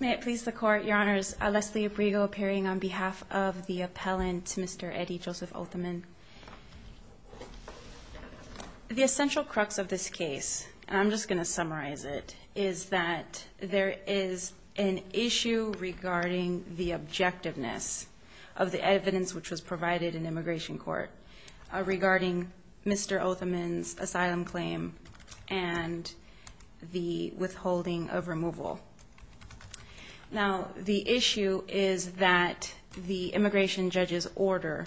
May it please the Court, Your Honors, Leslie Abrego appearing on behalf of the appellant, Mr. Eddie Joseph-Othoman. The essential crux of this case, and I'm just going to summarize it, is that there is an issue regarding the objectiveness of the evidence which was provided in immigration court regarding Mr. Othoman's asylum claim and the withholding of removal. Now, the issue is that the immigration judge's order,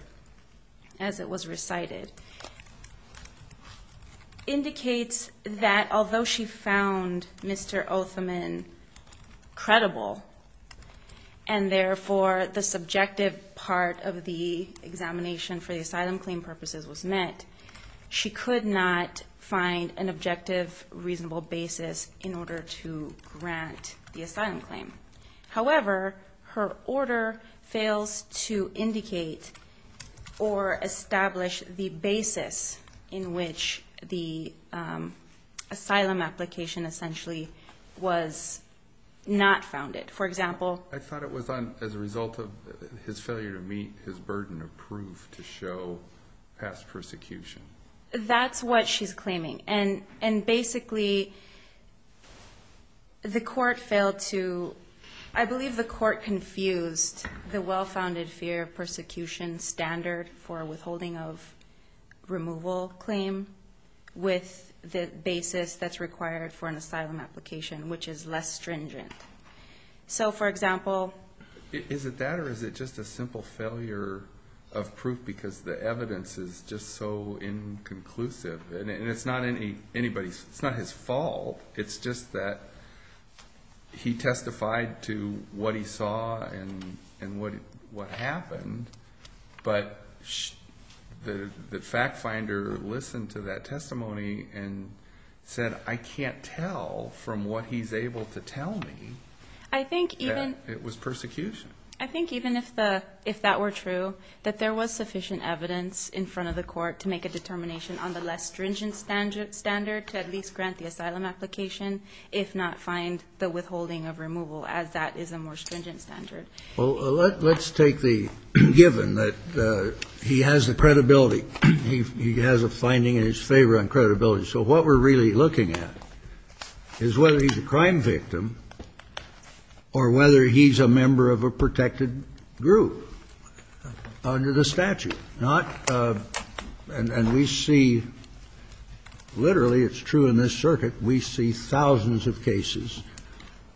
as it was recited, indicates that although she found Mr. Othoman credible, and therefore the subjective part of the examination for the asylum claim purposes was met, she could not find an objective, reasonable basis in the asylum claim. However, her order fails to indicate or establish the basis in which the asylum application essentially was not founded. For example, I thought it was as a result of his failure to meet his burden of proof to show past persecution. That's what she's claiming. And basically, the court failed to, I believe the court confused the well-founded fear of persecution standard for withholding of removal claim with the basis that's required for an asylum application, which is less stringent. So, for example. Is it that, or is it just a simple failure of proof because the evidence is just so inconclusive? And it's not anybody's, it's not his fault. It's just that he testified to what he saw and what happened, but the fact finder listened to that testimony and said, I can't tell from what he's able to tell me that it was persecution. I think even if the, if that were true, that there was sufficient evidence in front of the court to make a determination on the less stringent standard to at least grant the asylum application, if not find the withholding of removal as that is a more stringent standard. Well, let's take the given that he has the credibility. He has a finding in his favor on credibility. So what we're really looking at is whether he's a crime victim or whether he's a member of a protected group under the statute. Not, and we see literally, it's true in this circuit, we see thousands of cases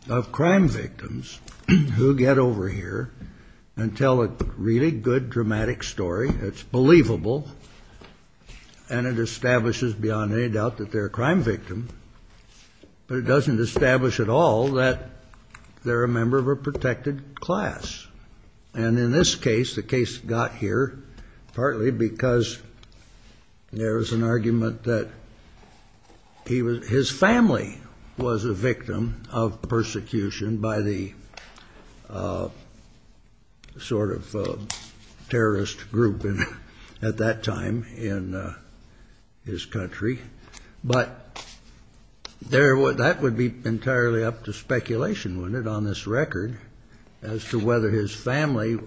of crime victims who get over here and tell a really good, dramatic story that's believable and it establishes beyond any doubt that they're a crime victim, but it doesn't establish at all that they're a member of a protected class. And in this case, the case got here partly because there was an argument that he was, his family was a victim of persecution by the sort of terrorist group at that time in his country. But that would be entirely up to speculation, wouldn't it, on this record as to whether his family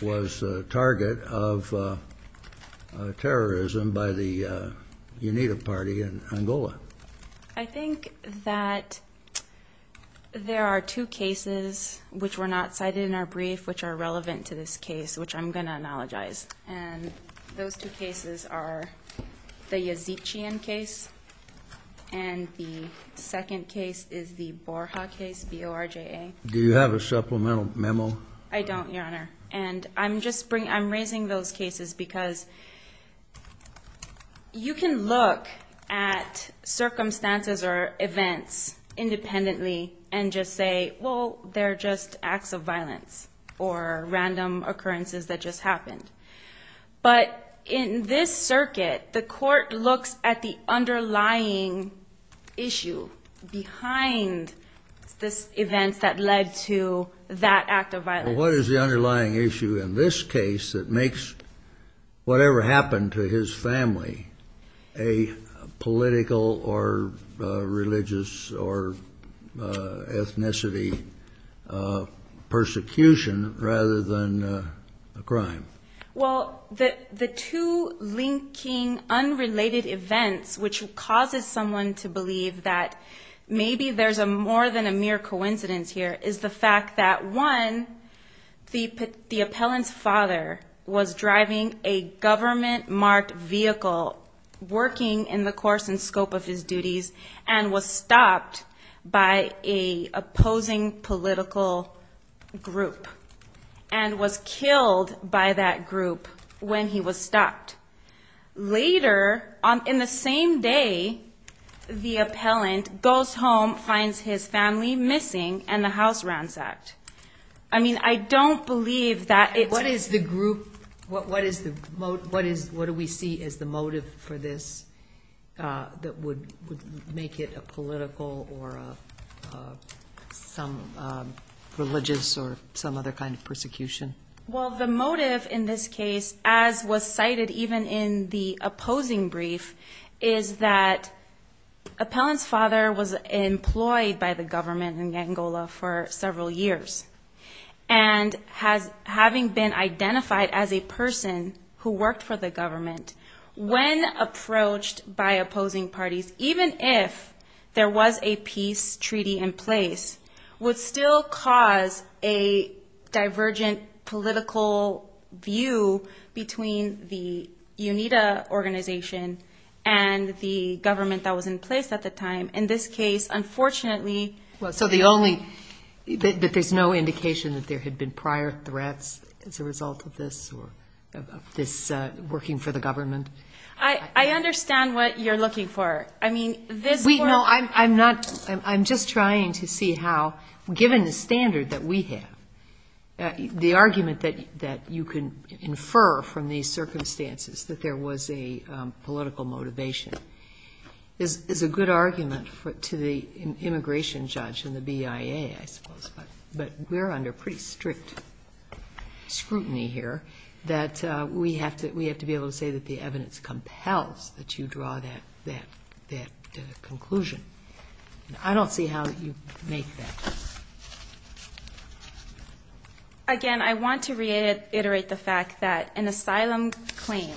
was a target of terrorism by the UNITA party in Angola? I think that there are two cases, which were not cited in our brief, which are relevant to this case, which I'm going to analogize. And those two cases are the Yazikian case and the second case is the Borja case, B-O-R-J-A. Do you have a supplemental memo? I don't, Your Honor. And I'm just bringing, I'm raising those cases because you can look at circumstances or events independently and just say, well, they're just acts of violence or random occurrences that just happened. But in this circuit, the court looks at the What is the underlying issue in this case that makes whatever happened to his family a political or religious or ethnicity persecution rather than a crime? Well, the two linking unrelated events, which causes someone to believe that maybe there's more than a mere coincidence here, is the fact that, one, the appellant's father was driving a government-marked vehicle, working in the course and scope of his duties, and was stopped by a opposing political group and was killed by that group when he was stopped. Later, in the same day, the appellant goes home, finds his family missing, and the house ransacked. I mean, I don't believe that it's What is the group, what do we see as the motive for this that would make it a political or some religious or some other kind of persecution? Well, the motive in this case, as was cited even in the opposing brief, is that appellant's father was employed by the government in Angola for several years, and having been identified as a person who worked for the government, when approached by opposing parties, even if there was a peace treaty in place, would still cause a divergent political view between the UNITA organization and the government that was in place at the time. In this case, unfortunately Well, so the only, that there's no indication that there had been prior threats as a result of this or of this working for the government? I understand what you're looking for. No, I'm just trying to see how, given the standard that we have, the argument that you can infer from these circumstances that there was a political motivation is a good argument to the immigration judge and the BIA, I suppose, but we're under pretty strict scrutiny here that we have to be able to say that the evidence compels that you draw that conclusion. I don't see how you make that. Again, I want to reiterate the fact that an asylum claim,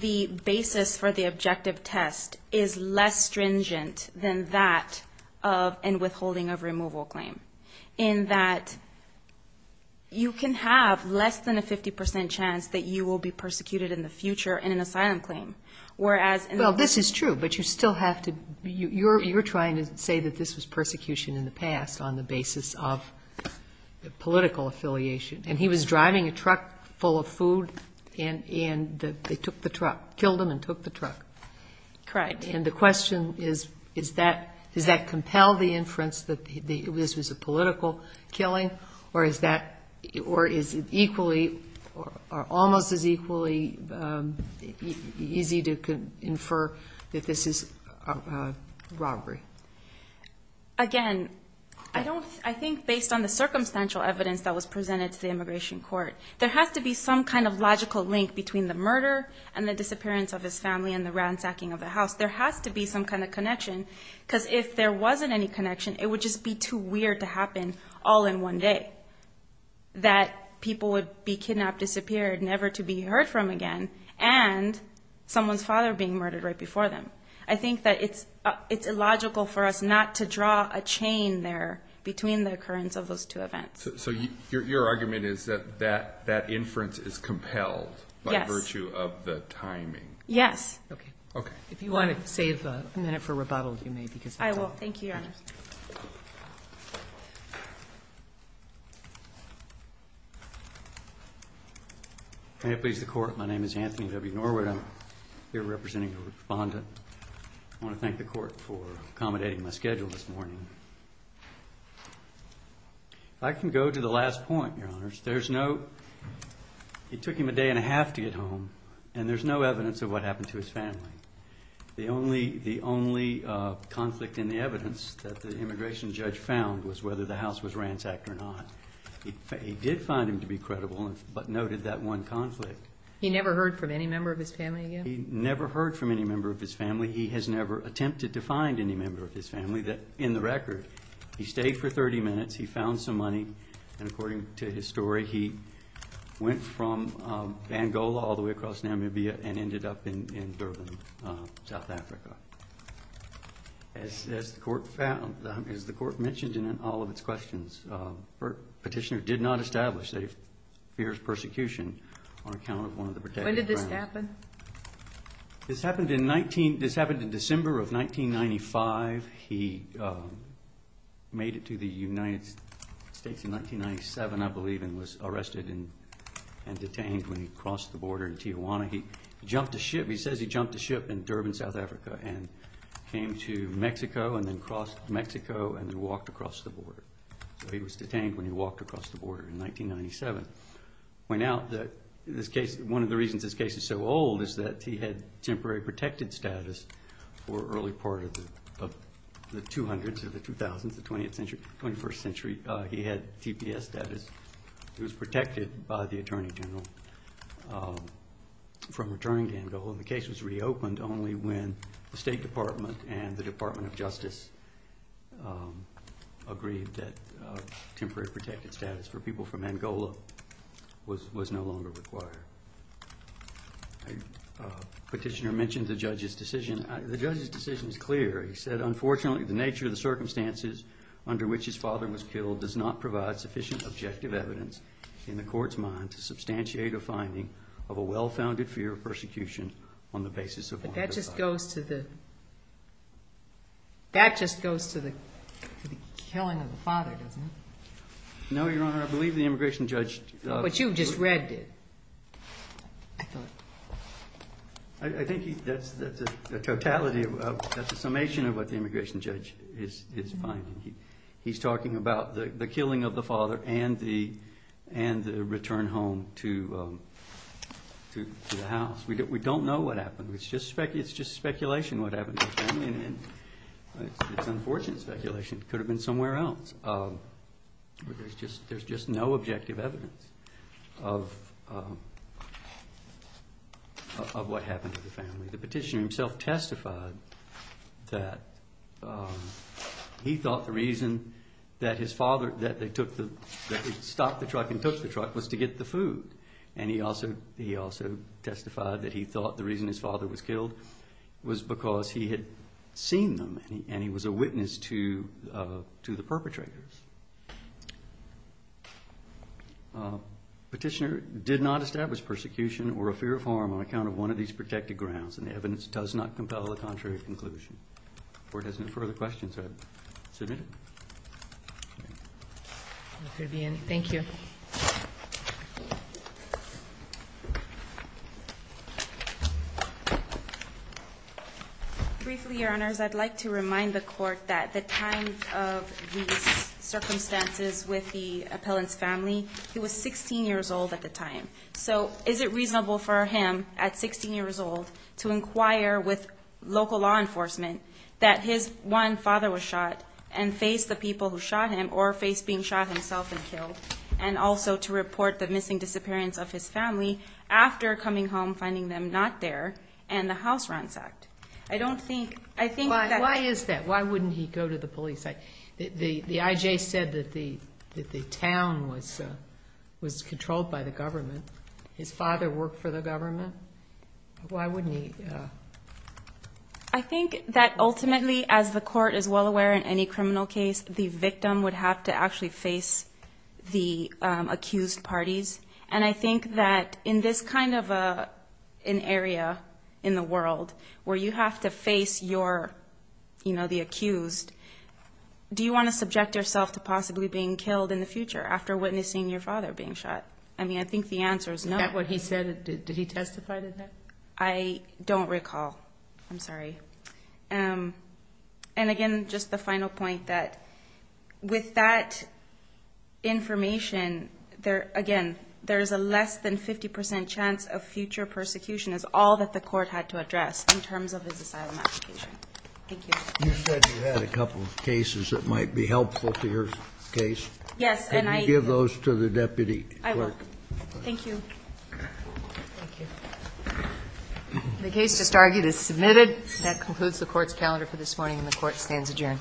the basis for the objective test is less stringent than that of a withholding of removal claim, in that you can have less than a 50% chance that you will be persecuted in the future in an asylum claim, whereas Well, this is true, but you still have to, you're trying to say that this was persecution in the past on the basis of political affiliation, and he was driving a truck full of food and they took the truck, killed him and took the truck. Correct. And the question is, is that, does that compel the inference that this was a political killing or is that, or is it equally or almost as equally easy to infer that this is a robbery? Again, I don't, I think based on the circumstantial evidence that was presented to the immigration court, there has to be some kind of logical link between the murder and the disappearance of his family and the ransacking of the house. There has to be some kind of connection because if there wasn't any connection, it would just be too weird to happen all in one day, that people would be kidnapped, disappeared, never to be heard from again, and someone's father being murdered right before them. I think that it's illogical for us not to draw a chain there between the occurrence of those two events. So your argument is that that inference is compelled by virtue of the timing. Yes. Okay. If you want to save a minute for rebuttal, you may, because I will. Thank you, Your Honor. May it please the Court, my name is Anthony W. Norwood, I'm here representing the respondent. I want to thank the Court for accommodating my schedule this morning. If I can go to the last point, Your Honors, there's no, it took him a day and a half to get home and there's no evidence of what happened to his family. The only conflict in the evidence that the immigration judge found was whether the house was ransacked or not. He did find him to be credible, but noted that one conflict. He never heard from any member of his family again? He never heard from any member of his family. He has never attempted to find any member of his family. In the record, he stayed for 30 minutes, he found some money, and according to his story, he went from Bangola all the way across Namibia and ended up in Durban, South Africa. As the Court found, as the Court mentioned in all of its questions, the petitioner did not establish that he fears persecution on account of one of the protected families. When did this happen? This happened in 19, this happened in December of 1995. He made it to the United States in 1997, I believe, and was arrested and detained when he crossed the border in Tijuana. He jumped a ship, he says he jumped a ship in Durban, South Africa, and came to Mexico and then crossed Mexico and then walked across the border. So he was detained when he walked across the border in 1997. Went out, this case, one of the reasons this case is so old is that he had temporary protected status for early part of the 200s or the 2000s, the 21st century, he had TPS status. He was protected by the Attorney General from returning to Angola, and the case was reopened only when the State Department and the Department of Justice agreed that temporary protected status for people from Angola was no longer required. Petitioner mentioned the judge's decision. The judge's decision is clear. He said, unfortunately, the nature of the circumstances under which his father was killed does not provide sufficient objective evidence in the court's mind to substantiate a finding of a well-founded fear of persecution on the basis of one of the five. But that just goes to the, that just goes to the killing of the father, doesn't it? No, Your Honor, I believe the immigration judge... But you just read it, I thought. I think that's a totality of, that's a summation of what the immigration judge is finding. He's talking about the killing of the father and the return home to the house. We don't know what happened. It's just speculation what happened to his family, and it's unfortunate speculation. It could have been somewhere else. There's just no objective evidence of what happened to the family. The petitioner himself testified that he thought the reason that his father, that they took the, that they stopped the truck and took the truck was to get the food. And he also testified that he thought the reason his father was killed was because he had seen them and he was a witness to the perpetrators. Petitioner did not establish persecution or a fear of harm on account of one of these protected grounds, and the evidence does not compel a contrary conclusion. If there are no further questions, I submit it. Thank you. Briefly, Your Honors, I'd like to remind the Court that at the time of these circumstances with the appellant's family, he was 16 years old at the time. So is it reasonable for him, at 16 years old, to inquire with local law enforcement that his one father was shot and face the people who shot him or face being shot himself and killed? And also to report the missing disappearance of his family after coming home, finding them not there, and the house ransacked? I don't think, I think that. Why is that? Why wouldn't he go to the police? The IJ said that the town was controlled by the government. His father worked for the government. Why wouldn't he? I think that ultimately, as the Court is well aware in any criminal case, the victim would have to actually face the accused parties. And I think that in this kind of an area in the world where you have to face your, you know, the accused, do you want to subject yourself to possibly being killed in the future after witnessing your father being shot? I mean, I think the answer is no. Is that what he said? Did he testify to that? I don't recall. I'm sorry. And again, just the final point that with that information, there, again, there is a less than 50% chance of future persecution is all that the Court had to address in terms of his asylum application. Thank you. You said you had a couple of cases that might be helpful to your case. Yes. Can you give those to the deputy clerk? I will. Thank you. Thank you. The case just argued is submitted. That concludes the Court's calendar for this morning, and the Court stands adjourned.